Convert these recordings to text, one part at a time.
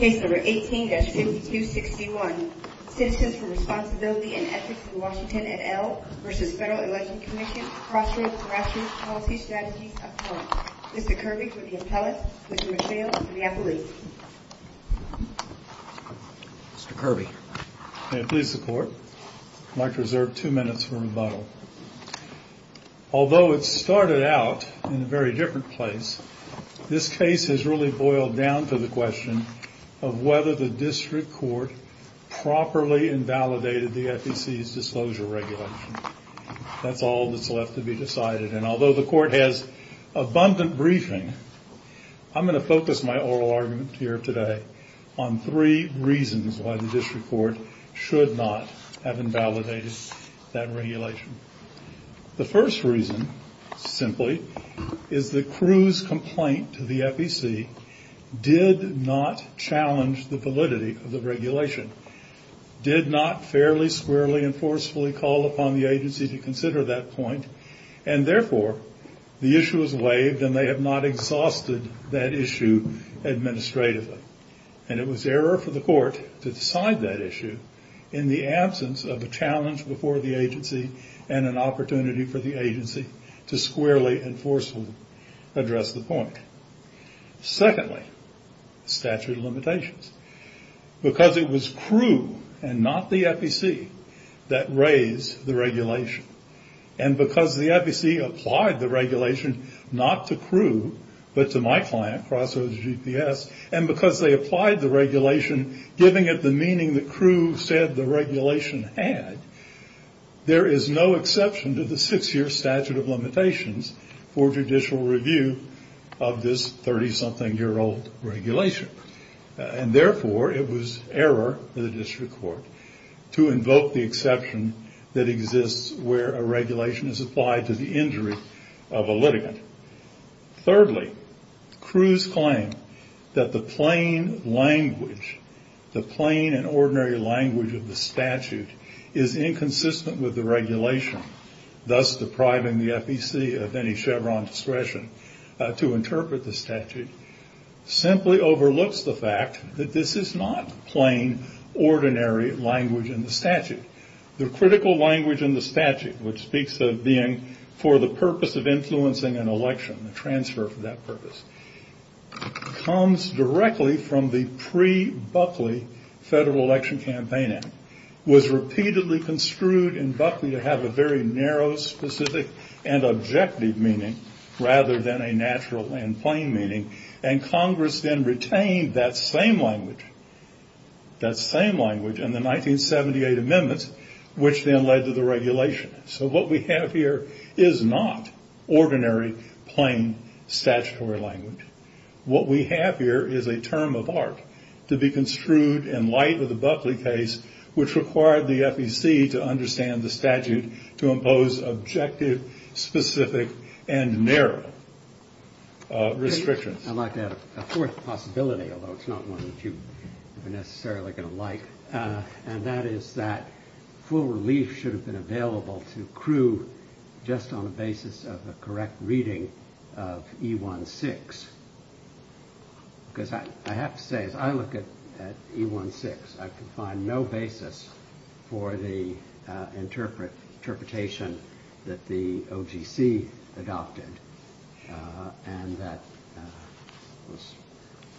18-5261 Citizens for Responsibility and Ethics in Washington, et al. v. Federal Election Commission Crossroads Gratuitous Policy Strategies, et al. Mr. Kirby for the Appellate, Mr. McNeil for the Appellate. Mr. Kirby. May it please the Court. I'd like to reserve two minutes for rebuttal. Although it started out in a very different place, this case has really boiled down to the question of whether the District Court properly invalidated the FEC's disclosure regulation. That's all that's left to be decided. And although the Court has abundant briefing, I'm going to focus my oral argument here today on three reasons why the District Court should not have invalidated that regulation. The first reason, simply, is that Crewe's complaint to the FEC did not challenge the validity of the regulation, did not fairly, squarely, and forcefully call upon the agency to consider that point, and therefore the issue is waived and they have not exhausted that issue administratively. And it was error for the Court to decide that issue in the absence of a challenge before the agency and an opportunity for the agency to squarely and forcefully address the point. Secondly, statute of limitations. Because it was Crewe and not the FEC that raised the regulation, and because the FEC applied the regulation not to Crewe but to my client, Crossroads GPS, and because they applied the regulation giving it the meaning that Crewe said the regulation had, there is no exception to the six-year statute of limitations for judicial review of this 30-something-year-old regulation. And therefore, it was error for the District Court to invoke the exception that exists where a regulation is applied to the injury of a litigant. Thirdly, Crewe's claim that the plain language, the plain and ordinary language of the statute, is inconsistent with the regulation, thus depriving the FEC of any Chevron discretion to interpret the statute, simply overlooks the fact that this is not plain, ordinary language in the statute. The critical language in the statute, which speaks of being for the purpose of influencing an election, the transfer for that purpose, comes directly from the pre-Buckley Federal Election Campaign Act. It was repeatedly construed in Buckley to have a very narrow, specific, and objective meaning, rather than a natural and plain meaning. And Congress then retained that same language in the 1978 amendments, which then led to the regulation. So what we have here is not ordinary, plain, statutory language. What we have here is a term of art to be construed in light of the Buckley case, which required the FEC to understand the statute to impose objective, specific, and narrow restrictions. I'd like to add a fourth possibility, although it's not one that you are necessarily going to like, and that is that full relief should have been available to Crewe just on the basis of a correct reading of E-1-6. Because I have to say, as I look at E-1-6, I can find no basis for the interpretation that the OGC adopted, and that was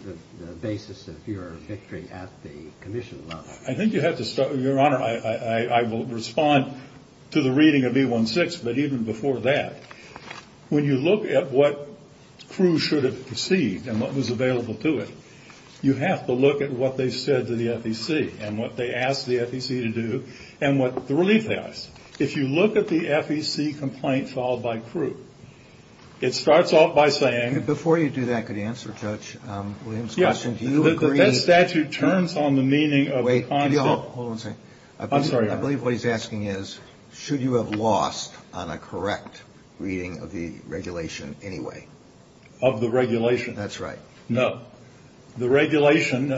the basis of your victory at the commission level. I think you have to start – Your Honor, I will respond to the reading of E-1-6, but even before that. When you look at what Crewe should have received and what was available to it, you have to look at what they said to the FEC and what they asked the FEC to do and what the relief has. If you look at the FEC complaint filed by Crewe, it starts off by saying – Before you do that, could you answer Judge Williams' question? Yes. Do you agree – That statute turns on the meaning of – Wait. Hold on a second. I'm sorry. I believe what he's asking is, should you have lost on a correct reading of the regulation anyway? Of the regulation? That's right. No. The regulation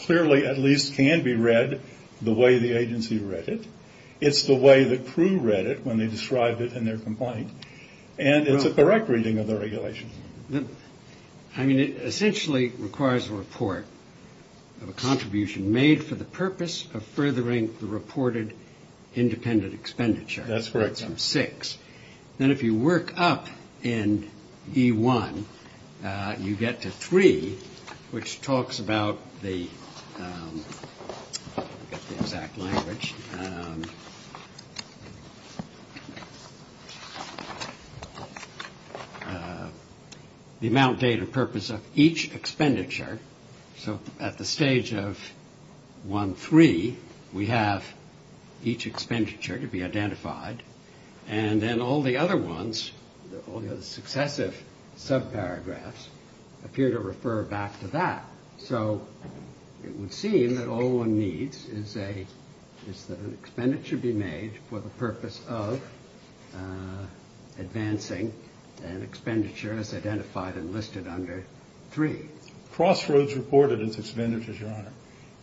clearly at least can be read the way the agency read it. It's the way that Crewe read it when they described it in their complaint, and it's a correct reading of the regulation. I mean, it essentially requires a report of a contribution made for the purpose of furthering the reported independent expenditure. That's correct. Then if you work up in E1, you get to 3, which talks about the exact language. The amount, date, and purpose of each expenditure. So at the stage of 1-3, we have each expenditure to be identified, and then all the other ones, all the successive subparagraphs, appear to refer back to that. So it would seem that all one needs is that an expenditure be made for the purpose of advancing an expenditure as identified and listed under 3. Crossroads reported its expenditures, Your Honor.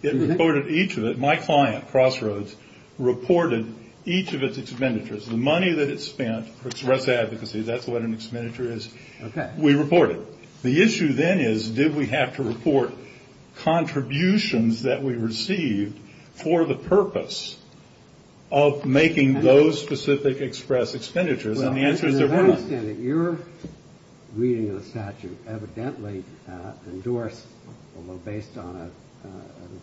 It reported each of it. My client, Crossroads, reported each of its expenditures. The money that it spent for express advocacy, that's what an expenditure is. Okay. We report it. The issue then is did we have to report contributions that we received for the purpose of making those specific express expenditures, and the answer is there were none. I understand that your reading of the statute evidently endorsed, although based on a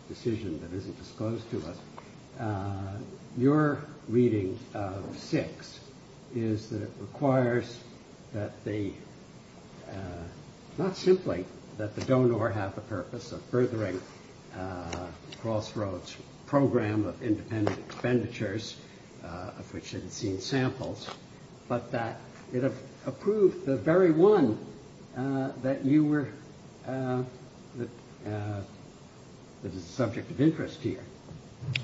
decision that isn't disclosed to us, your reading of 6 is that it requires that they not simply that the donor have the purpose of furthering Crossroads' program of independent expenditures, of which it had seen samples, but that it approved the very one that you were, that is a subject of interest here.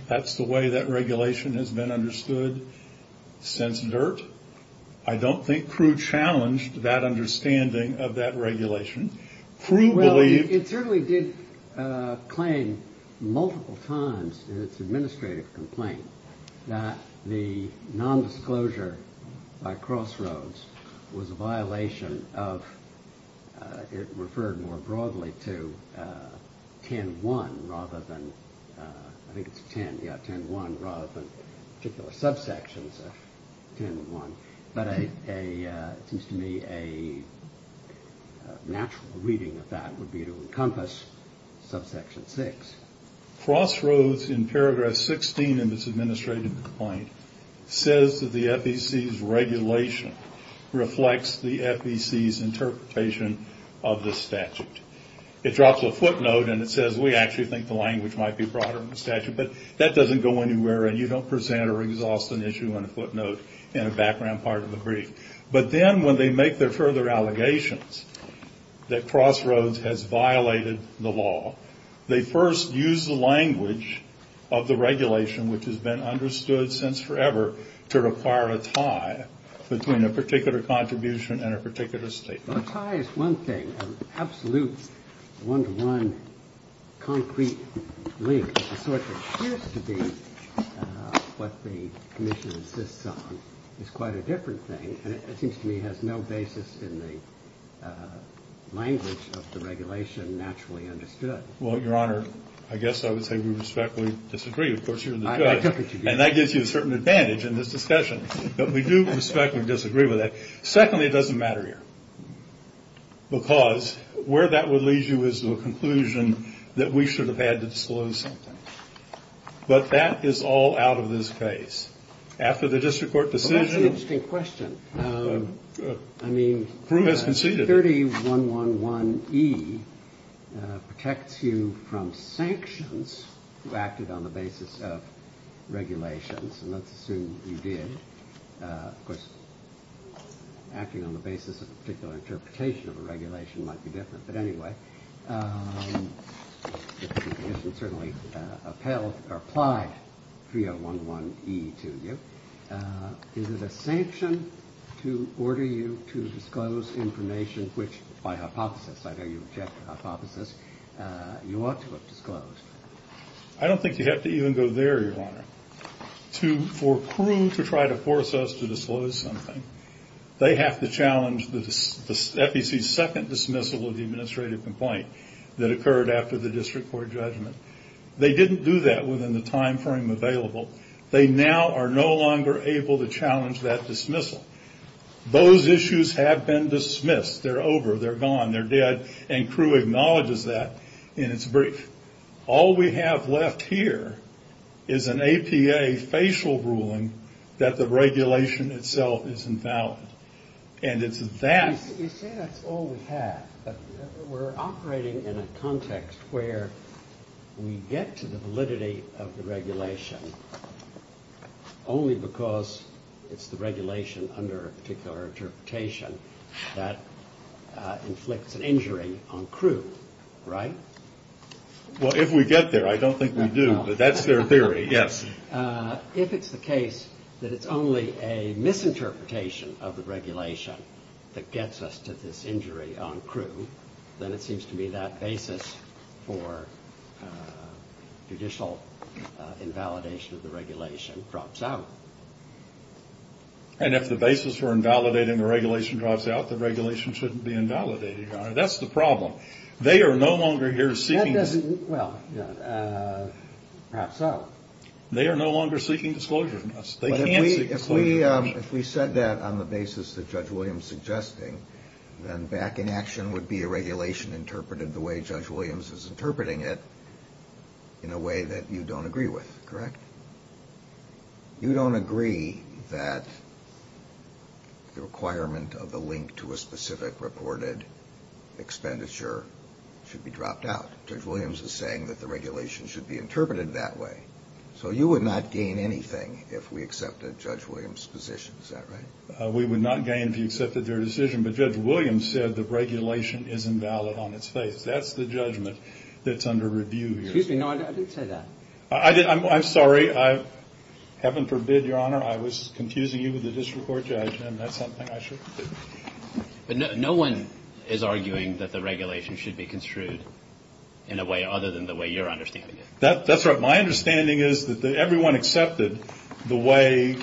That's the way that regulation has been understood since NERT. I don't think Crew challenged that understanding of that regulation. Well, it certainly did claim multiple times in its administrative complaint that the nondisclosure by Crossroads was a violation of, it referred more broadly to 10.1 rather than, I think it's 10, yeah, 10.1 rather than particular subsections of 10.1, but it seems to me a natural reading of that would be to encompass subsection 6. Crossroads, in paragraph 16 of its administrative complaint, says that the FEC's regulation reflects the FEC's interpretation of the statute. It drops a footnote and it says we actually think the language might be broader than the statute, but that doesn't go anywhere and you don't present or exhaust an issue on a footnote in a background part of the brief. But then when they make their further allegations that Crossroads has violated the law, they first use the language of the regulation, which has been understood since forever, to require a tie between a particular contribution and a particular statement. Well, a tie is one thing. An absolute one-to-one concrete link, the sort that appears to be what the commission insists on, is quite a different thing and it seems to me has no basis in the language of the regulation naturally understood. Well, Your Honor, I guess I would say we respectfully disagree. Of course, you're the judge. I took it to be the judge. And that gives you a certain advantage in this discussion. But we do respectfully disagree with that. Secondly, it doesn't matter here. Because where that would lead you is to a conclusion that we should have had to disclose something. But that is all out of this case. After the district court decision. Well, that's an interesting question. I mean, 30111E protects you from sanctions if you acted on the basis of regulations, and let's assume you did. Of course, acting on the basis of a particular interpretation of a regulation might be different. But anyway, the commission certainly appelled or applied 3011E to you. Is it a sanction to order you to disclose information which, by hypothesis, I know you object to hypothesis, you ought to have disclosed? I don't think you have to even go there, Your Honor. For Crewe to try to force us to disclose something, they have to challenge the FEC's second dismissal of the administrative complaint that occurred after the district court judgment. They didn't do that within the time frame available. They now are no longer able to challenge that dismissal. Those issues have been dismissed. They're over. They're gone. They're dead. And Crewe acknowledges that in its brief. All we have left here is an APA facial ruling that the regulation itself is invalid. And it's that. You say that's all we have, but we're operating in a context where we get to the validity of the regulation only because it's the regulation under a particular interpretation that inflicts an injury on Crewe, right? Well, if we get there, I don't think we do, but that's their theory, yes. If it's the case that it's only a misinterpretation of the regulation that gets us to this injury on Crewe, then it seems to me that basis for judicial invalidation of the regulation drops out. And if the basis for invalidating the regulation drops out, the regulation shouldn't be invalidated, Your Honor. That's the problem. They are no longer here seeking. Well, perhaps so. They are no longer seeking disclosure from us. If we said that on the basis that Judge Williams is suggesting, then back in action would be a regulation interpreted the way Judge Williams is interpreting it in a way that you don't agree with, correct? You don't agree that the requirement of the link to a specific reported expenditure should be dropped out. Judge Williams is saying that the regulation should be interpreted that way. So you would not gain anything if we accepted Judge Williams' position. Is that right? We would not gain if you accepted their decision, but Judge Williams said the regulation is invalid on its face. That's the judgment that's under review here. Excuse me. No, I didn't say that. I'm sorry. Heaven forbid, Your Honor, I was confusing you with the district court judge, and that's something I should do. But no one is arguing that the regulation should be construed in a way other than the way you're understanding it. That's right. My understanding is that everyone accepted the way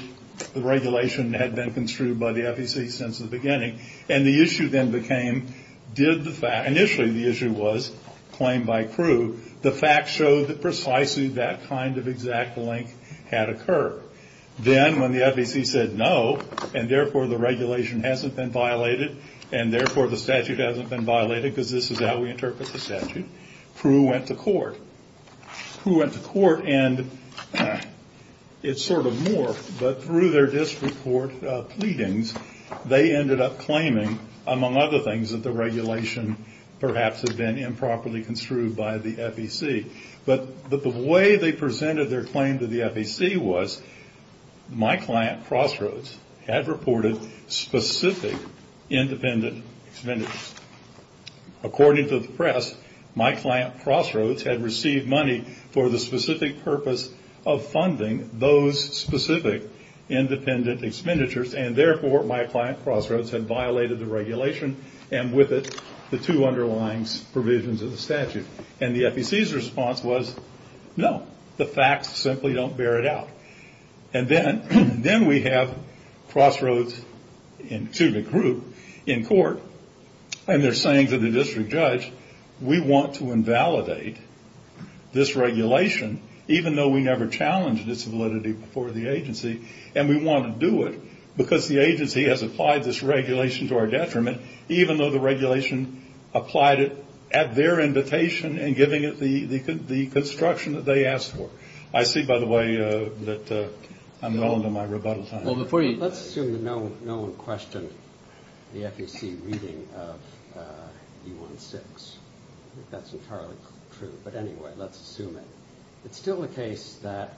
the regulation had been construed by the FEC since the beginning, and the issue then became did the fact – initially the issue was claimed by Crewe. The fact showed that precisely that kind of exact link had occurred. Then when the FEC said no, and therefore the regulation hasn't been violated, and therefore the statute hasn't been violated because this is how we interpret the statute, Crewe went to court. Crewe went to court, and it sort of morphed. But through their district court pleadings, they ended up claiming, among other things, that the regulation perhaps had been improperly construed by the FEC. But the way they presented their claim to the FEC was my client, Crossroads, had reported specific independent expenditures. According to the press, my client, Crossroads, had received money for the specific purpose of funding those specific independent expenditures, and therefore my client, Crossroads, had violated the regulation and with it the two underlying provisions of the statute. And the FEC's response was no, the facts simply don't bear it out. And then we have Crossroads to the group in court, and they're saying to the district judge, we want to invalidate this regulation, even though we never challenged its validity before the agency, and we want to do it because the agency has applied this regulation to our detriment, even though the regulation applied it at their invitation and giving it the construction that they asked for. I see, by the way, that I'm well into my rebuttal time. Let's assume that no one questioned the FEC reading of E-1-6. I think that's entirely true. But anyway, let's assume it. It's still the case that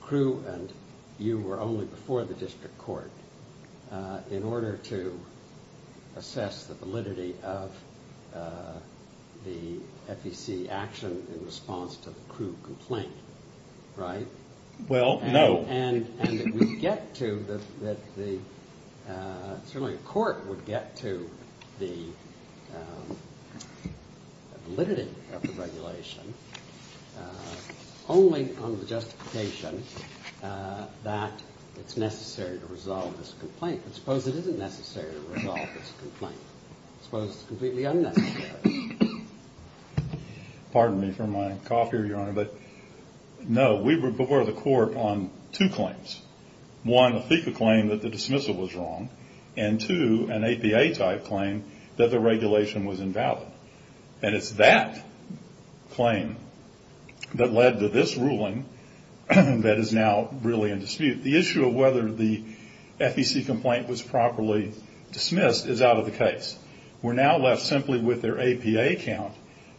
Crewe and you were only before the district court in order to assess the validity of the FEC action in response to the Crewe complaint, right? Well, no. And it would get to the – certainly a court would get to the validity of the regulation only on the justification that it's necessary to resolve this complaint. But suppose it isn't necessary to resolve this complaint. Suppose it's completely unnecessary. Pardon me for my cough here, Your Honor, but no, we were before the court on two claims. One, a FECA claim that the dismissal was wrong, and two, an APA-type claim that the regulation was invalid. And it's that claim that led to this ruling that is now really in dispute. The issue of whether the FEC complaint was properly dismissed is out of the case. We're now left simply with their APA count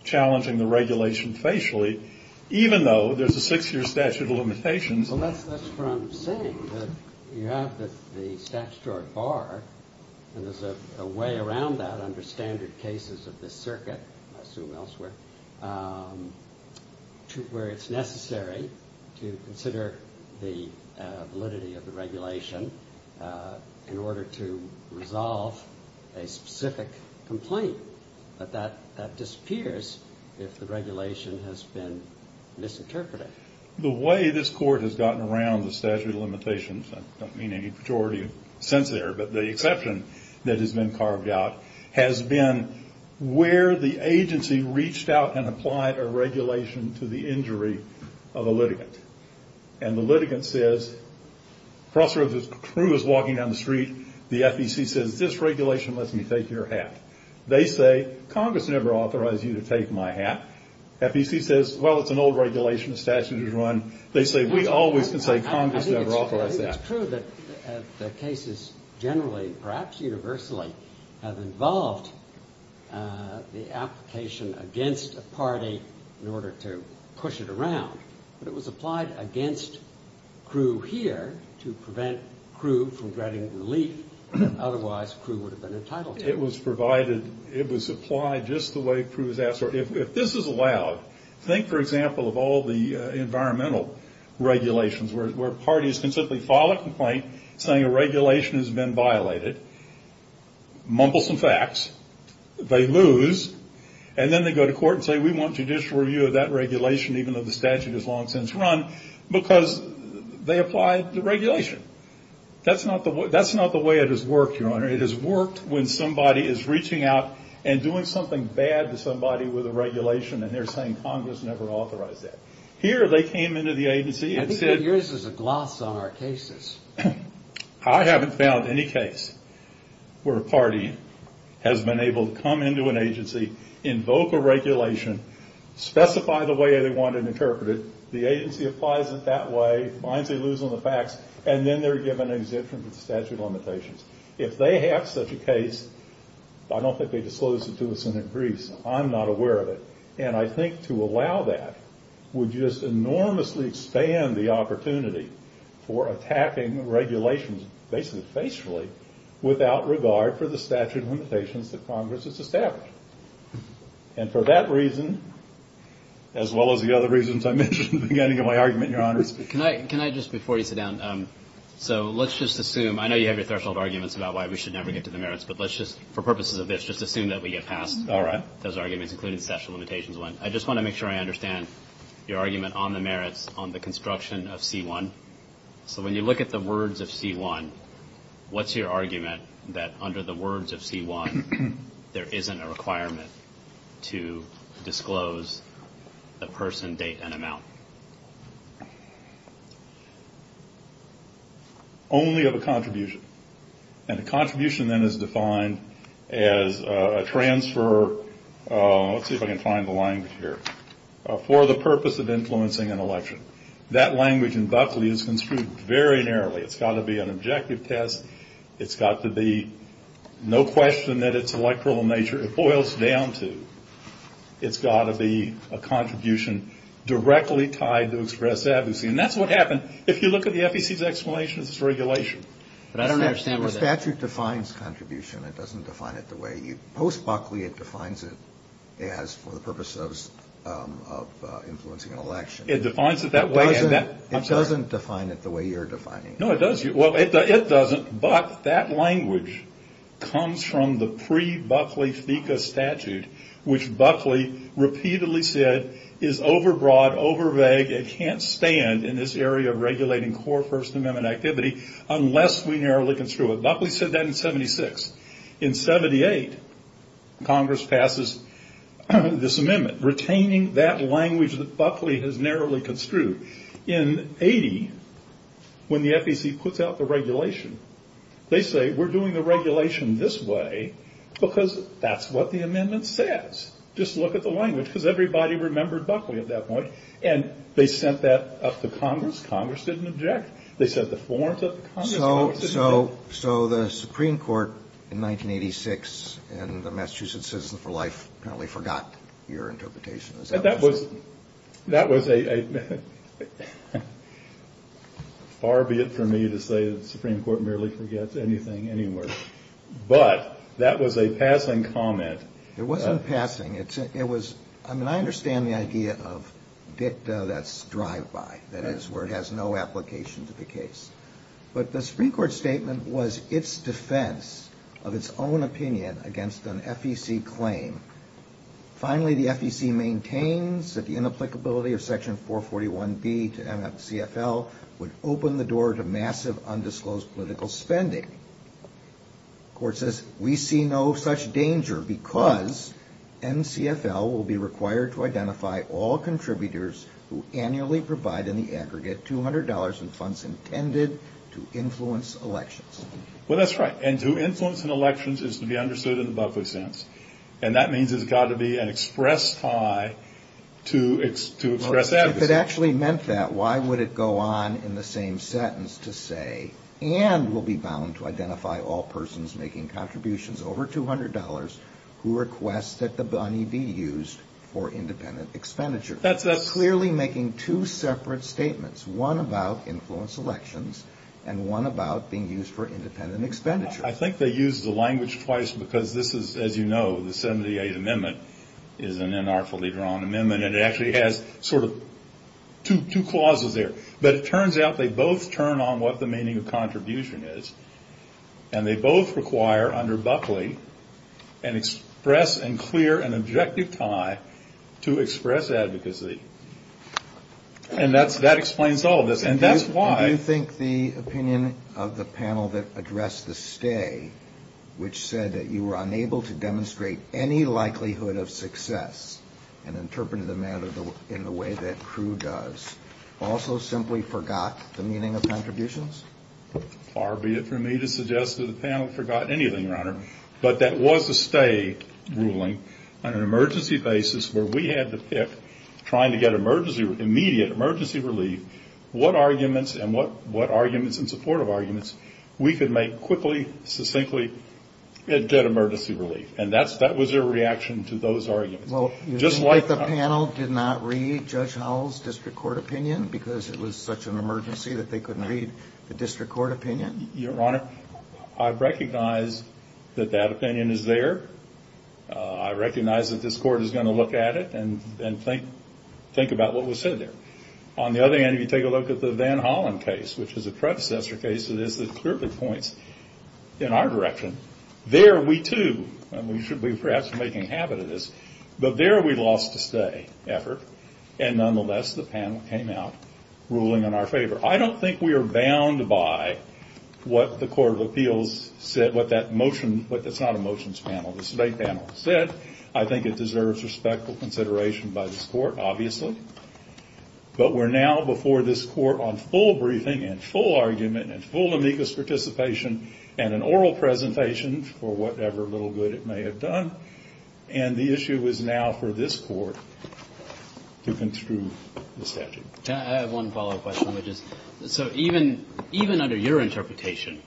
challenging the regulation facially, even though there's a six-year statute of limitations. Well, that's from saying that you have the statutory bar, and there's a way around that under standard cases of this circuit, I assume elsewhere, to where it's necessary to consider the validity of the regulation in order to resolve a specific complaint. But that disappears if the regulation has been misinterpreted. The way this Court has gotten around the statute of limitations – I don't mean any pejorative sense there, but the exception that has been carved out – is where the agency reached out and applied a regulation to the injury of a litigant. And the litigant says, the officer of the crew is walking down the street, the FEC says, this regulation lets me take your hat. They say, Congress never authorized you to take my hat. FEC says, well, it's an old regulation, the statute is wrong. They say, we always can say Congress never authorized that. It's true that the cases generally, perhaps universally, have involved the application against a party in order to push it around. But it was applied against crew here to prevent crew from getting relief, otherwise crew would have been entitled to it. It was provided – it was applied just the way crew is asked. If this is allowed, think, for example, of all the environmental regulations where parties can simply file a complaint saying a regulation has been violated, mumble some facts, they lose, and then they go to court and say, we want judicial review of that regulation, even though the statute has long since run, because they applied the regulation. That's not the way it has worked, Your Honor. It has worked when somebody is reaching out and doing something bad to somebody with a regulation, and they're saying Congress never authorized that. Here they came into the agency and said – I think that yours is a gloss on our cases. I haven't found any case where a party has been able to come into an agency, invoke a regulation, specify the way they want it interpreted, the agency applies it that way, finds they lose on the facts, and then they're given an exemption from the statute of limitations. If they have such a case, I don't think they disclose it to us in Greece. I'm not aware of it. And I think to allow that would just enormously expand the opportunity for attacking regulations, basically facefully, without regard for the statute of limitations that Congress has established. And for that reason, as well as the other reasons I mentioned at the beginning of my argument, Your Honor. Can I just, before you sit down, so let's just assume – I know you have your threshold arguments about why we should never get to the merits, but let's just, for purposes of this, just assume that we get past those arguments, including the statute of limitations one. I just want to make sure I understand your argument on the merits on the construction of C-1. So when you look at the words of C-1, what's your argument that under the words of C-1, there isn't a requirement to disclose the person, date, and amount? Only of a contribution. And a contribution, then, is defined as a transfer – let's see if I can find the language here – for the purpose of influencing an election. That language in Buckley is construed very narrowly. It's got to be an objective test. It's got to be no question that it's electoral in nature. It boils down to it's got to be a contribution directly tied to express advocacy. And that's what happens if you look at the FEC's explanation of this regulation. But I don't understand what that – The statute defines contribution. It doesn't define it the way you – post-Buckley, it defines it as for the purpose of influencing an election. It defines it that way, and that – It doesn't define it the way you're defining it. No, it does. Well, it doesn't, but that language comes from the pre-Buckley FECA statute, which Buckley repeatedly said is over-broad, over-vague. It can't stand in this area of regulating core First Amendment activity unless we narrowly construe it. Buckley said that in 76. In 78, Congress passes this amendment, retaining that language that Buckley has narrowly construed. In 80, when the FEC puts out the regulation, they say, we're doing the regulation this way because that's what the amendment says. Just look at the language, because everybody remembered Buckley at that point. And they sent that up to Congress. Congress didn't object. They sent the florent up to Congress. Congress didn't object. So the Supreme Court in 1986 in the Massachusetts Citizen for Life apparently forgot your interpretation. Is that possible? That was a – far be it for me to say the Supreme Court merely forgets anything anyway. But that was a passing comment. It wasn't passing. I mean, I understand the idea of dicta that's drive-by, that is, where it has no application to the case. But the Supreme Court statement was its defense of its own opinion against an FEC claim. Finally, the FEC maintains that the inapplicability of Section 441B to CFL would open the door to massive undisclosed political spending. The Court says, we see no such danger because NCFL will be required to identify all contributors who annually provide, in the aggregate, $200 in funds intended to influence elections. Well, that's right. And to influence an election is to be understood in the Buckley sense. And that means there's got to be an express tie to express advocacy. If it actually meant that, why would it go on in the same sentence to say, and will be bound to identify all persons making contributions over $200 who request that the money be used for independent expenditure? Clearly making two separate statements, one about influence elections and one about being used for independent expenditure. I think they used the language twice because this is, as you know, the 78th Amendment is an unartfully drawn amendment. And it actually has sort of two clauses there. But it turns out they both turn on what the meaning of contribution is. And they both require, under Buckley, an express and clear and objective tie to express advocacy. And that explains all of this. And that's why. Do you think the opinion of the panel that addressed the stay, which said that you were unable to demonstrate any likelihood of success and interpreted the matter in the way that Crewe does, also simply forgot the meaning of contributions? Far be it from me to suggest that the panel forgot anything, Your Honor. But that was a stay ruling on an emergency basis where we had to pick, trying to get immediate emergency relief, what arguments and supportive arguments we could make quickly, succinctly, get emergency relief. And that was their reaction to those arguments. Well, you think that the panel did not read Judge Howell's district court opinion because it was such an emergency that they couldn't read the district court opinion? Your Honor, I recognize that that opinion is there. I recognize that this court is going to look at it and think about what was said there. On the other hand, if you take a look at the Van Hollen case, which is a predecessor case to this that clearly points in our direction, there we too, and we should be perhaps making habit of this, but there we lost a stay effort. And nonetheless, the panel came out ruling in our favor. I don't think we are bound by what the Court of Appeals said, what that motion, but it's not a motions panel, it's a debate panel, said. I think it deserves respectful consideration by this court, obviously. But we're now before this court on full briefing and full argument and full amicus participation and an oral presentation for whatever little good it may have done. And the issue is now for this court to construe the statute. I have one follow-up question, which is, so even under your interpretation,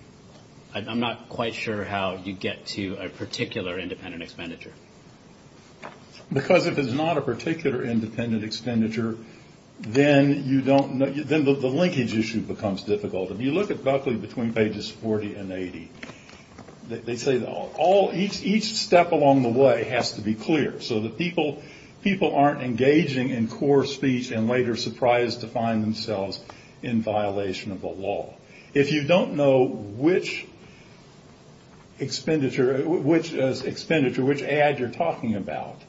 I'm not quite sure how you get to a particular independent expenditure. Because if it's not a particular independent expenditure, then the linkage issue becomes difficult. If you look at Buckley between pages 40 and 80, they say each step along the way has to be clear so that people aren't engaging in core speech and later surprised to find themselves in violation of the law. If you don't know which expenditure, which ad you're talking about,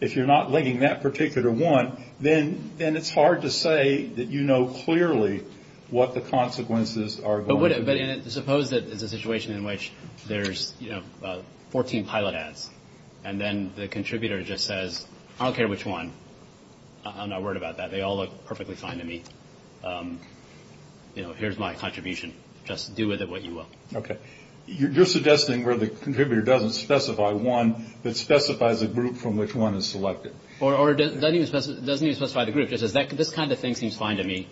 if you're not linking that particular one, then it's hard to say that you know clearly what the consequences are going to be. Suppose it's a situation in which there's, you know, 14 pilot ads. And then the contributor just says, I don't care which one. I'm not worried about that. They all look perfectly fine to me. You know, here's my contribution. Just do with it what you will. Okay. You're suggesting where the contributor doesn't specify one, but specifies a group from which one is selected. Or doesn't even specify the group. If the contributor says this kind of thing seems fine to me,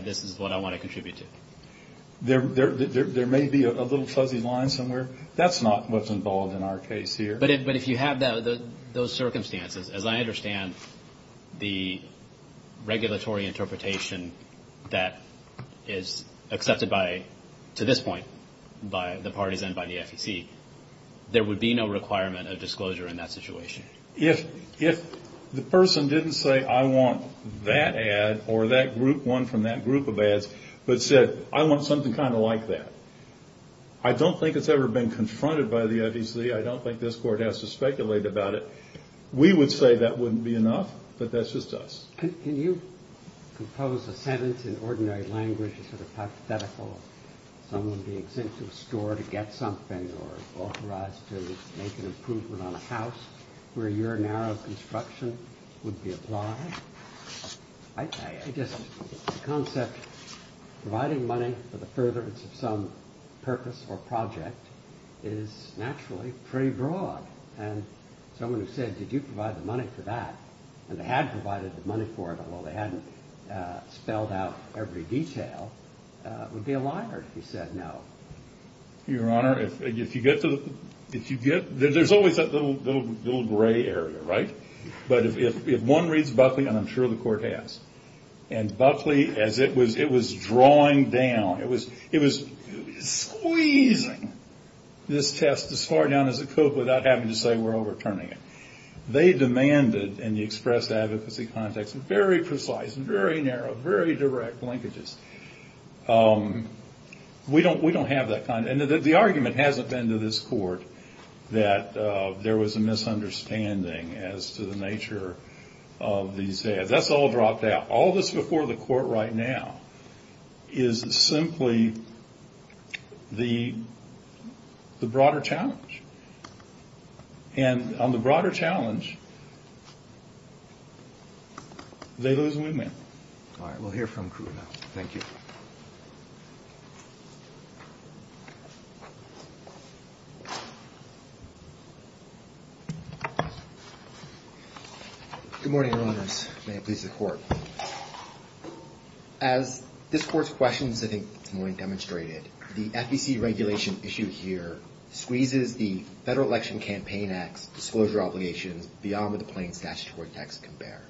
this is what I want to contribute to. There may be a little fuzzy line somewhere. That's not what's involved in our case here. But if you have those circumstances, as I understand the regulatory interpretation that is accepted by, to this point, by the parties and by the FEC, there would be no requirement of disclosure in that situation. If the person didn't say, I want that ad or that group one from that group of ads, but said, I want something kind of like that. I don't think it's ever been confronted by the FEC. I don't think this court has to speculate about it. We would say that wouldn't be enough. But that's just us. Can you compose a sentence in ordinary language, sort of hypothetical, someone being sent to a store to get something or authorized to make an improvement on a house where your narrow construction would be applied? I just, the concept, providing money for the furtherance of some purpose or project is naturally pretty broad. And someone who said, did you provide the money for that, and they had provided the money for it, although they hadn't spelled out every detail, would be a liar if he said no. Your Honor, if you get to the, if you get, there's always that little gray area, right? But if one reads Buckley, and I'm sure the court has, and Buckley, as it was drawing down, it was squeezing this test as far down as it could without having to say we're overturning it. They demanded, in the expressed advocacy context, very precise, very narrow, very direct linkages. We don't have that kind. And the argument hasn't been to this court that there was a misunderstanding as to the nature of these ads. That's all dropped out. All that's before the court right now is simply the broader challenge. And on the broader challenge, they lose the win-win. All right. We'll hear from Krueger now. Thank you. Good morning, Your Honors. May it please the Court. As this Court's questions, I think, have already demonstrated, the FEC regulation issue here squeezes the Federal Election Campaign Act's disclosure obligations beyond what the plain statutory text can bear.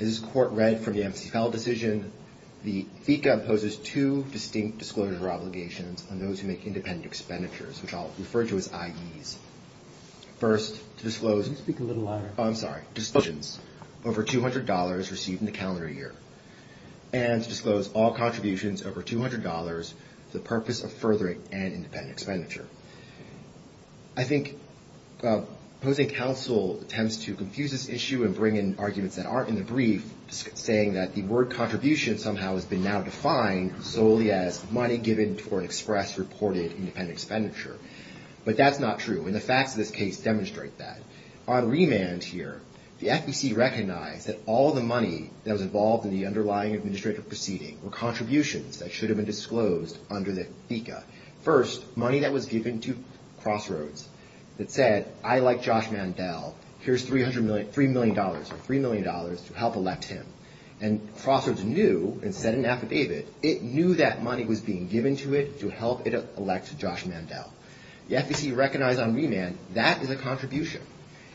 As this Court read from the MCFL decision, the FECA imposes two distinct disclosure obligations on those who make independent expenditures, which I'll refer to as IEs. First, to disclose- Speak a little louder. Oh, I'm sorry. Disclosures over $200 received in the calendar year. And to disclose all contributions over $200 for the purpose of furthering an independent expenditure. I think opposing counsel attempts to confuse this issue and bring in arguments that aren't in the brief, saying that the word contribution somehow has been now defined solely as money given for an express reported independent expenditure. But that's not true. And the facts of this case demonstrate that. On remand here, the FEC recognized that all the money that was involved in the underlying administrative proceeding were contributions that should have been disclosed under the FECA. First, money that was given to Crossroads that said, I like Josh Mandel, here's $3 million to help elect him. And Crossroads knew and sent an affidavit. It knew that money was being given to it to help it elect Josh Mandel. The FEC recognized on remand that is a contribution.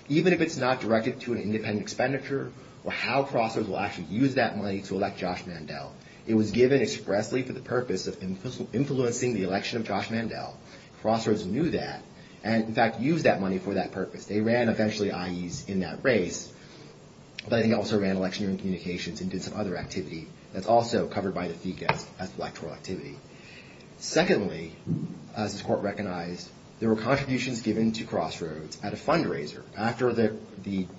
Even if it's not directed to an independent expenditure or how Crossroads will actually use that money to elect Josh Mandel. It was given expressly for the purpose of influencing the election of Josh Mandel. Crossroads knew that and in fact used that money for that purpose. They ran eventually IEs in that race. But I think they also ran election communications and did some other activity that's also covered by the FECA as electoral activity. Secondly, as this court recognized, there were contributions given to Crossroads at a fundraiser. After the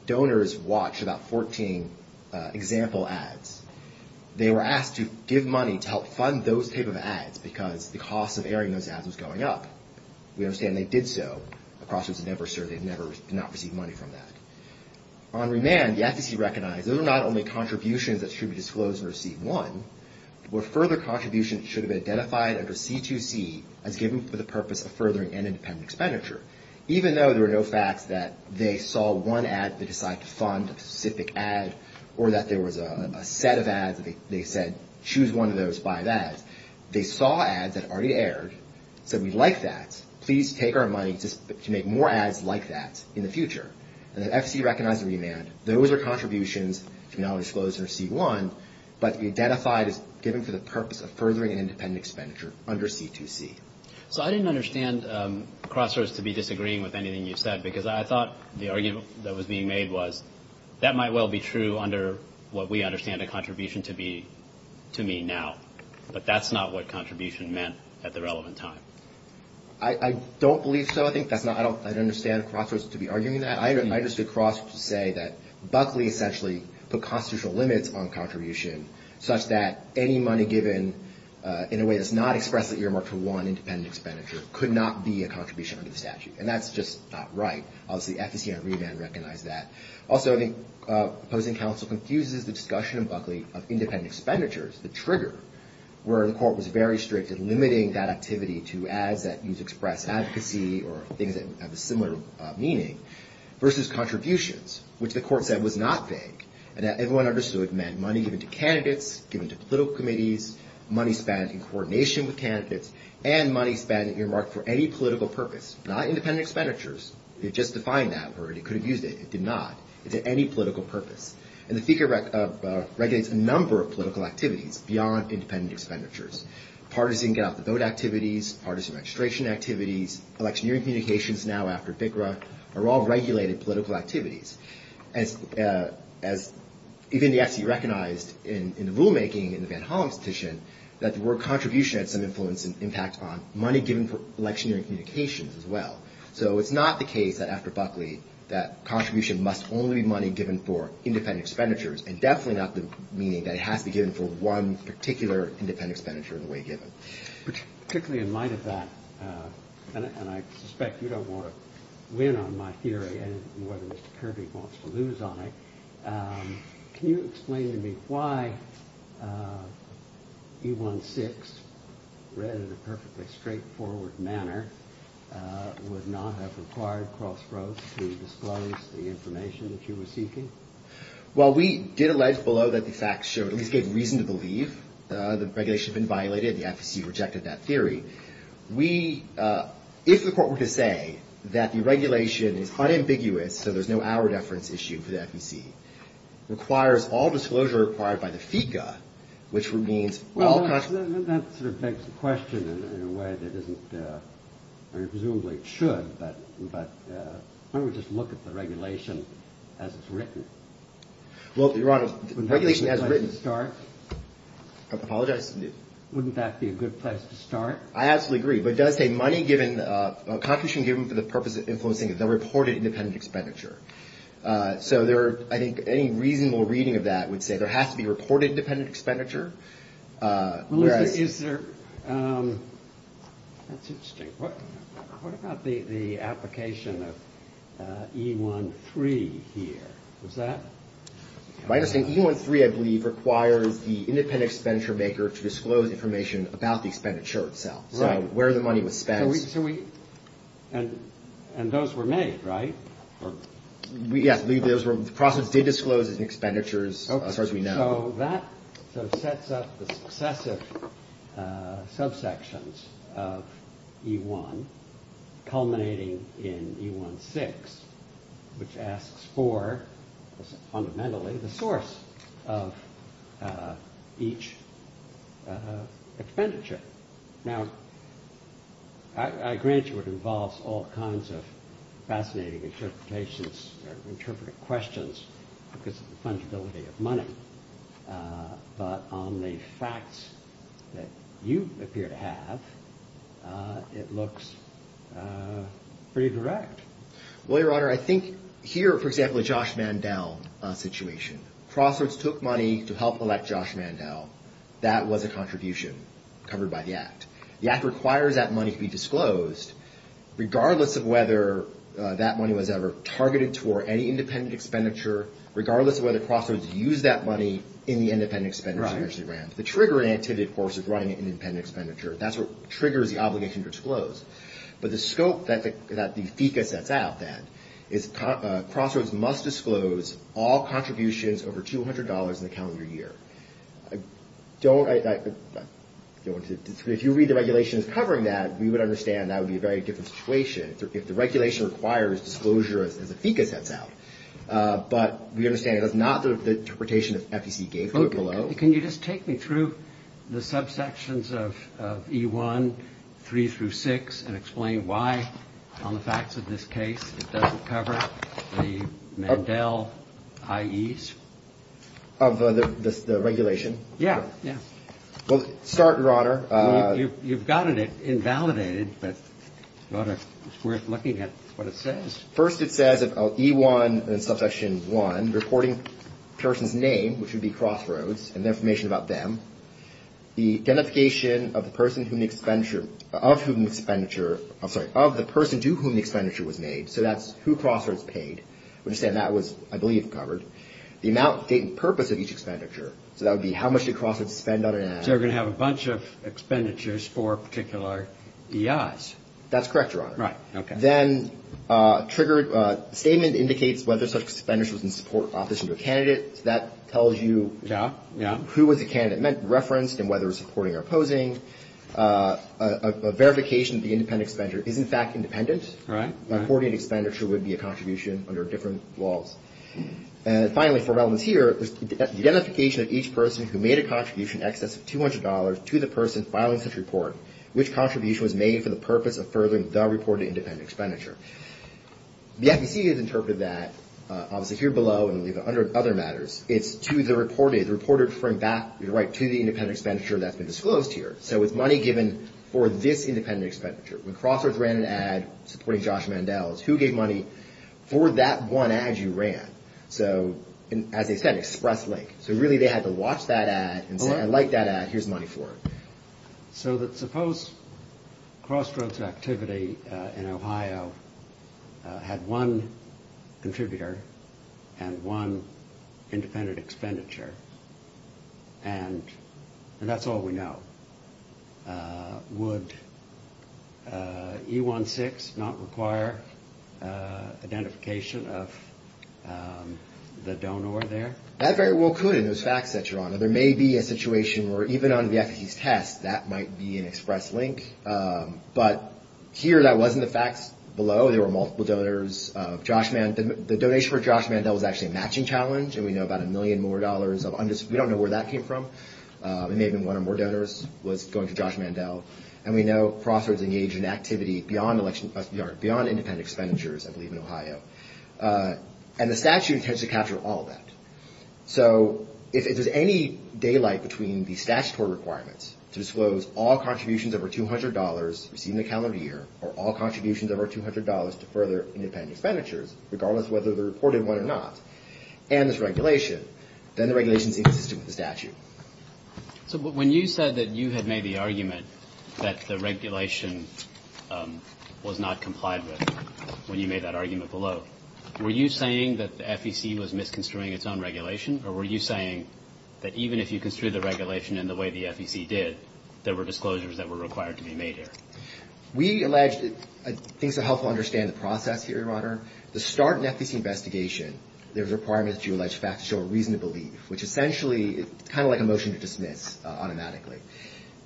donors watched about 14 example ads, they were asked to give money to help fund those type of ads because the cost of airing those ads was going up. We understand they did so. Crossroads had never served, they had never received money from that. On remand, the FEC recognized those are not only contributions that should be disclosed under C1, but further contributions should have been identified under C2C as given for the purpose of furthering an independent expenditure. Even though there were no facts that they saw one ad that they decided to fund, a specific ad, or that there was a set of ads that they said, choose one of those, buy that. They saw ads that already aired, said we'd like that. Please take our money to make more ads like that in the future. And the FEC recognized the remand. Those are contributions to be not only disclosed under C1, but identified as given for the purpose of furthering an independent expenditure under C2C. So I didn't understand Crossroads to be disagreeing with anything you said because I thought the argument that was being made was that might well be true under what we understand a contribution to mean now, but that's not what contribution meant at the relevant time. I don't believe so. I think that's not, I don't understand Crossroads to be arguing that. I understand Crossroads to say that Buckley essentially put constitutional limits on contribution such that any money given in a way that's not expressly earmarked for one independent expenditure could not be a contribution under the statute. And that's just not right. Obviously, the FEC on remand recognized that. Also, I think opposing counsel confuses the discussion in Buckley of independent expenditures, the trigger, where the court was very strict in limiting that activity to ads that use express advocacy or things that have a similar meaning versus contributions, which the court said was not vague and that everyone understood meant money given to candidates, given to political committees, money spent in coordination with candidates, and money spent earmarked for any political purpose, not independent expenditures. It just defined that word. It could have used it. It did not. It's at any political purpose. And the FEC regulates a number of political activities beyond independent expenditures, partisan get-out-of-the-vote activities, partisan registration activities, electioneering communications now after BGRA are all regulated political activities. Even the FEC recognized in the rulemaking in the Van Hollen petition that the word contribution had some influence and impact on money given for electioneering communications as well. So it's not the case that after Buckley that contribution must only be money given for independent expenditures and definitely not the meaning that it has to be given for one particular independent expenditure in the way given. Particularly in light of that, and I suspect you don't want to win on my theory and whether Mr. Kirby wants to lose on it, can you explain to me why E-1-6, read in a perfectly straightforward manner, would not have required Crossroads to disclose the information that you were seeking? Well, we did allege below that the facts showed, at least gave reason to believe, that the regulation had been violated. The FEC rejected that theory. We, if the court were to say that the regulation is unambiguous, so there's no hour deference issue for the FEC, requires all disclosure required by the FECA, which would mean all... Well, that sort of begs the question in a way that isn't, I mean, presumably it should, but why don't we just look at the regulation as it's written? Well, Your Honor, the regulation as written... Wouldn't that be a good place to start? Apologize? Wouldn't that be a good place to start? I absolutely agree, but it does say money given, contribution given for the purpose of influencing the reported independent expenditure. So there, I think, any reasonable reading of that would say there has to be reported independent expenditure. Well, is there... That's interesting. What about the application of E-1-3 here? Is that... If I understand, E-1-3, I believe, requires the independent expenditure maker to disclose information about the expenditure itself. Right. So where the money was spent. So we... And those were made, right? Yes, I believe those were... The process did disclose expenditures, as far as we know. So that sort of sets up the successive subsections of E-1, culminating in E-1-6, which asks for, fundamentally, the source of each expenditure. Now, I grant you it involves all kinds of fascinating interpretations, or interpretive questions, because of the fungibility of money. But on the facts that you appear to have, it looks pretty direct. Well, Your Honor, I think here, for example, the Josh Mandel situation. Crossroads took money to help elect Josh Mandel. That was a contribution covered by the Act. The Act requires that money to be disclosed, regardless of whether that money was ever targeted toward any independent expenditure, regardless of whether Crossroads used that money in the independent expenditure. Right. The triggering activity, of course, is running an independent expenditure. That's what triggers the obligation to disclose. But the scope that the FECA sets out, then, is Crossroads must disclose all contributions over $200 in the calendar year. If you read the regulations covering that, we would understand that would be a very different situation if the regulation requires disclosure, as the FECA sets out. But we understand that's not the interpretation the FECA gave to it below. Can you just take me through the subsections of E1, 3 through 6, and explain why, on the facts of this case, it doesn't cover the Mandel IEs? Yeah. Well, start, Your Honor. You've got it invalidated, but it's worth looking at what it says. First, it says in E1, subsection 1, reporting a person's name, which would be Crossroads, and the information about them. The identification of the person to whom the expenditure was made, so that's who Crossroads paid. We understand that was, I believe, covered. The amount, date, and purpose of each expenditure, so that would be how much did Crossroads spend on an asset. So we're going to have a bunch of expenditures for particular EIs. That's correct, Your Honor. Right, okay. Then, triggered statement indicates whether such an expenditure was in support or opposition to a candidate. That tells you who was the candidate referenced and whether it was supporting or opposing. A verification of the independent expenditure is, in fact, independent. Right. A coordinated expenditure would be a contribution under different laws. Finally, for relevance here, the identification of each person who made a contribution in excess of $200 to the person filing such a report, which contribution was made for the purpose of furthering the reported independent expenditure. The FEC has interpreted that, obviously, here below and under other matters. It's to the reported, the reporter referring back, you're right, to the independent expenditure that's been disclosed here. So it's money given for this independent expenditure. When Crossroads ran an ad supporting Josh Mandels, who gave money for that one ad you ran? So, as they said, Express Link. So really they had to watch that ad and say, I like that ad, here's the money for it. So suppose Crossroads activity in Ohio had one contributor and one independent expenditure, and that's all we know. Would E-1-6 not require identification of the donor there? That very well could in those facts that you're on. There may be a situation where even under the FEC's test, that might be an Express Link. But here that wasn't the facts below. There were multiple donors. The donation for Josh Mandel was actually a matching challenge, and we know about a million more dollars of, we don't know where that came from. It may have been one or more donors was going to Josh Mandel. And we know Crossroads engaged in activity beyond independent expenditures, I believe, in Ohio. And the statute tends to capture all that. So if there's any daylight between the statutory requirements to disclose all contributions over $200 received in the calendar year, or all contributions over $200 to further independent expenditures, regardless of whether they're reported one or not, and there's regulation, then the regulation is inconsistent with the statute. So when you said that you had made the argument that the regulation was not complied with when you made that argument below, were you saying that the FEC was misconstruing its own regulation, or were you saying that even if you construed the regulation in the way the FEC did, there were disclosures that were required to be made here? We alleged, I think it's helpful to understand the process here, Your Honor. To start an FEC investigation, there's a requirement that you allege facts to show a reason to believe, which essentially is kind of like a motion to dismiss automatically.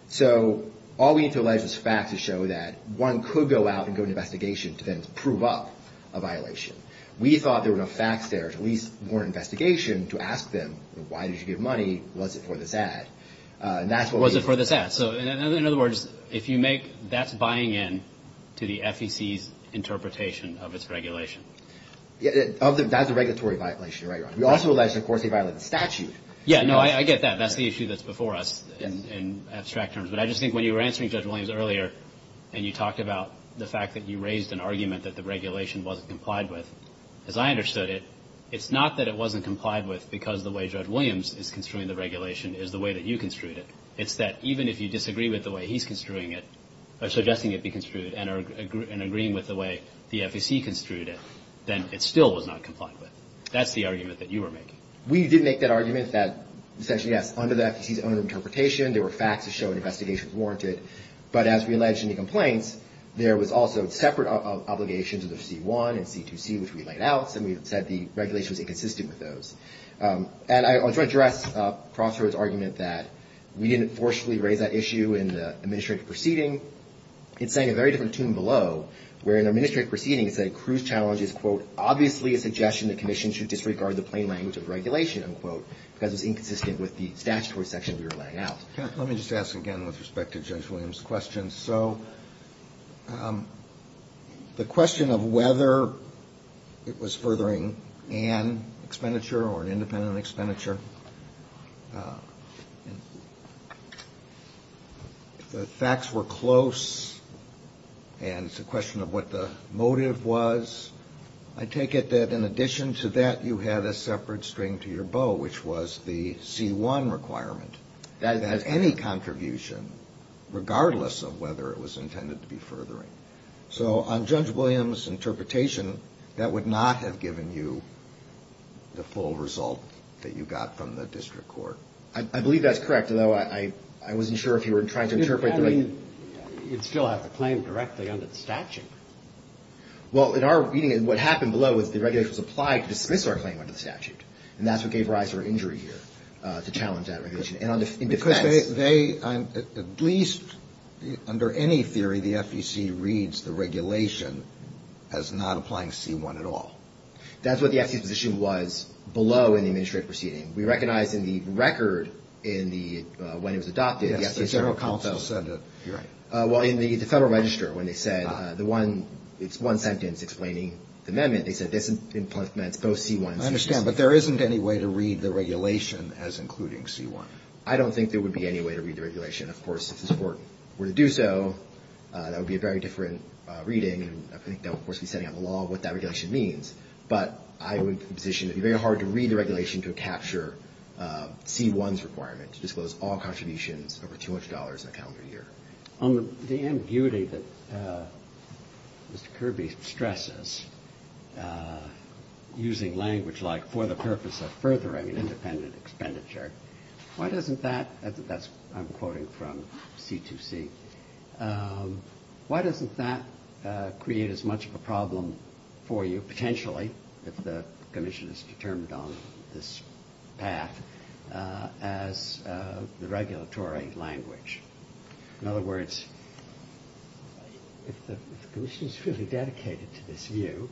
So all we need to allege is facts to show that one could go out and go to an investigation to then prove up a violation. We thought there were enough facts there to at least warrant an investigation to ask them, why did you give money, was it for this ad? Was it for this ad? So in other words, if you make that's buying in to the FEC's interpretation of its regulation. That's a regulatory violation, you're right, Your Honor. We also alleged, of course, they violated the statute. Yeah, no, I get that. That's the issue that's before us in abstract terms. But I just think when you were answering Judge Williams earlier and you talked about the fact that you raised an argument that the regulation wasn't complied with, as I understood it, it's not that it wasn't complied with because the way Judge Williams is construing the regulation is the way that you construed it. It's that even if you disagree with the way he's construing it or suggesting it be construed and agreeing with the way the FEC construed it, then it still was not complied with. That's the argument that you were making. We did make that argument that essentially, yes, under the FEC's own interpretation, there were facts to show an investigation was warranted. But as we alleged in the complaints, there was also separate obligations under C-1 and C-2C, which we laid out. And we said the regulation was inconsistent with those. And I want to address Crossroads' argument that we didn't forcefully raise that issue in the administrative proceeding. It's saying a very different tune below, where in the administrative proceeding, it said, Cruz challenges, quote, obviously a suggestion the commission should disregard the plain language of regulation, unquote, because it's inconsistent with the statutory section we were laying out. Let me just ask again with respect to Judge Williams' question. So the question of whether it was furthering an expenditure or an independent expenditure, the facts were close, and it's a question of what the motive was. I take it that in addition to that, you had a separate string to your bow, which was the C-1 requirement. That has any contribution, regardless of whether it was intended to be furthering. So on Judge Williams' interpretation, that would not have given you the full result that you got from the district court. I believe that's correct, although I wasn't sure if you were trying to interpret the right. You'd still have to claim directly under the statute. Well, in our reading, what happened below was the regulation was applied to dismiss our claim under the statute. And that's what gave rise to our injury here, to challenge that regulation. Because they, at least under any theory, the FEC reads the regulation as not applying C-1 at all. That's what the FEC's position was below in the administrative proceeding. We recognize in the record in the, when it was adopted. Yes, the Federal Council said that. Right. Well, in the Federal Register, when they said the one, it's one sentence explaining the amendment, they said this implements both C-1 and C-16. I understand. But there isn't any way to read the regulation as including C-1. I don't think there would be any way to read the regulation. Of course, if this Court were to do so, that would be a very different reading. And I think that would, of course, be setting out in the law what that regulation means. But I would position it would be very hard to read the regulation to capture C-1's requirement to disclose all contributions over $200 in a calendar year. On the ambiguity that Mr. Kirby stresses, using language like for the purpose of furthering independent expenditure, why doesn't that, I'm quoting from C-2C, Why doesn't that create as much of a problem for you, potentially, if the commission is determined on this path, as the regulatory language? In other words, if the commission is really dedicated to this view,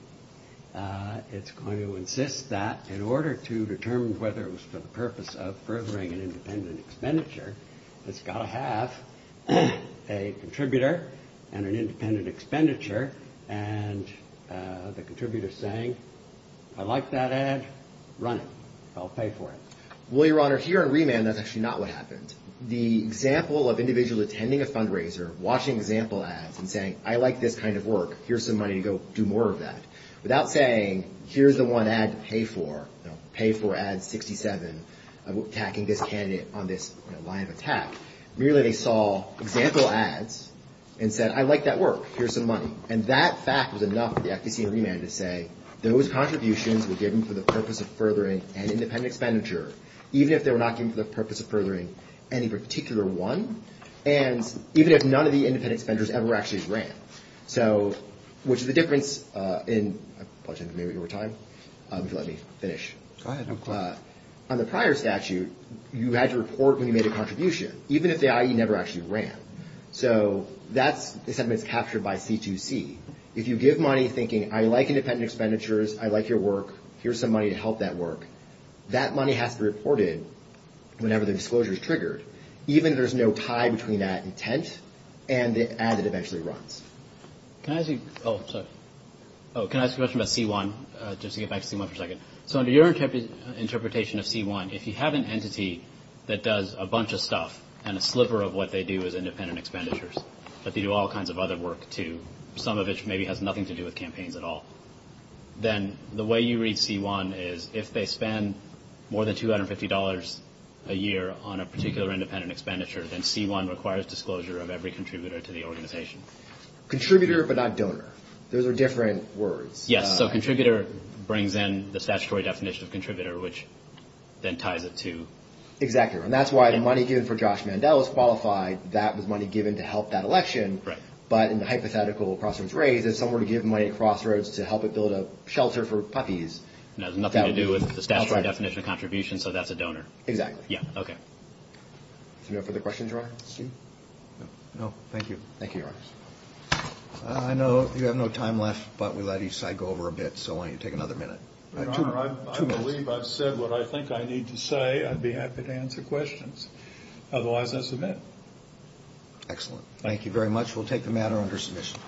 it's going to insist that in order to determine whether it was for the purpose of furthering an independent expenditure, it's got to have a contributor and an independent expenditure and the contributor saying, I like that ad, run it. I'll pay for it. Well, Your Honor, here on remand, that's actually not what happened. The example of individuals attending a fundraiser, watching example ads and saying, I like this kind of work, here's some money to go do more of that, without saying, here's the one ad to pay for, pay for ad 67, attacking this candidate on this line of attack, merely they saw example ads and said, I like that work, here's some money. And that fact was enough for the FTC on remand to say, those contributions were given for the purpose of furthering an independent expenditure, even if they were not given for the purpose of furthering any particular one, and even if none of the independent expenditures ever actually ran. So, which is the difference in the prior statute, you had to report when you made a contribution, even if the IE never actually ran. So that's something that's captured by C2C. If you give money thinking, I like independent expenditures, I like your work, here's some money to help that work, that money has to be reported whenever the disclosure is triggered, even if there's no tie between that intent and the ad that eventually runs. Can I ask you a question about C1, just to get back to C1 for a second. So under your interpretation of C1, if you have an entity that does a bunch of stuff and a sliver of what they do is independent expenditures, but they do all kinds of other work too, some of which maybe has nothing to do with campaigns at all, then the way you read C1 is, if they spend more than $250 a year on a particular independent expenditure, then C1 requires disclosure of every contributor to the organization. Contributor, but not donor. Those are different words. Yes, so contributor brings in the statutory definition of contributor, which then ties it to... Exactly, and that's why the money given for Josh Mandel is qualified, that was money given to help that election, but in the hypothetical crossroads raise, if someone were to give money to crossroads to help it build a shelter for puppies... That has nothing to do with the statutory definition of contribution, so that's a donor. Exactly. Yeah, okay. Any further questions, Your Honor? No, thank you. Thank you, Your Honor. I know you have no time left, but we let each side go over a bit, so why don't you take another minute. Your Honor, I believe I've said what I think I need to say. I'd be happy to answer questions. Otherwise, I submit. Excellent. Thank you very much. We'll take the matter under submission.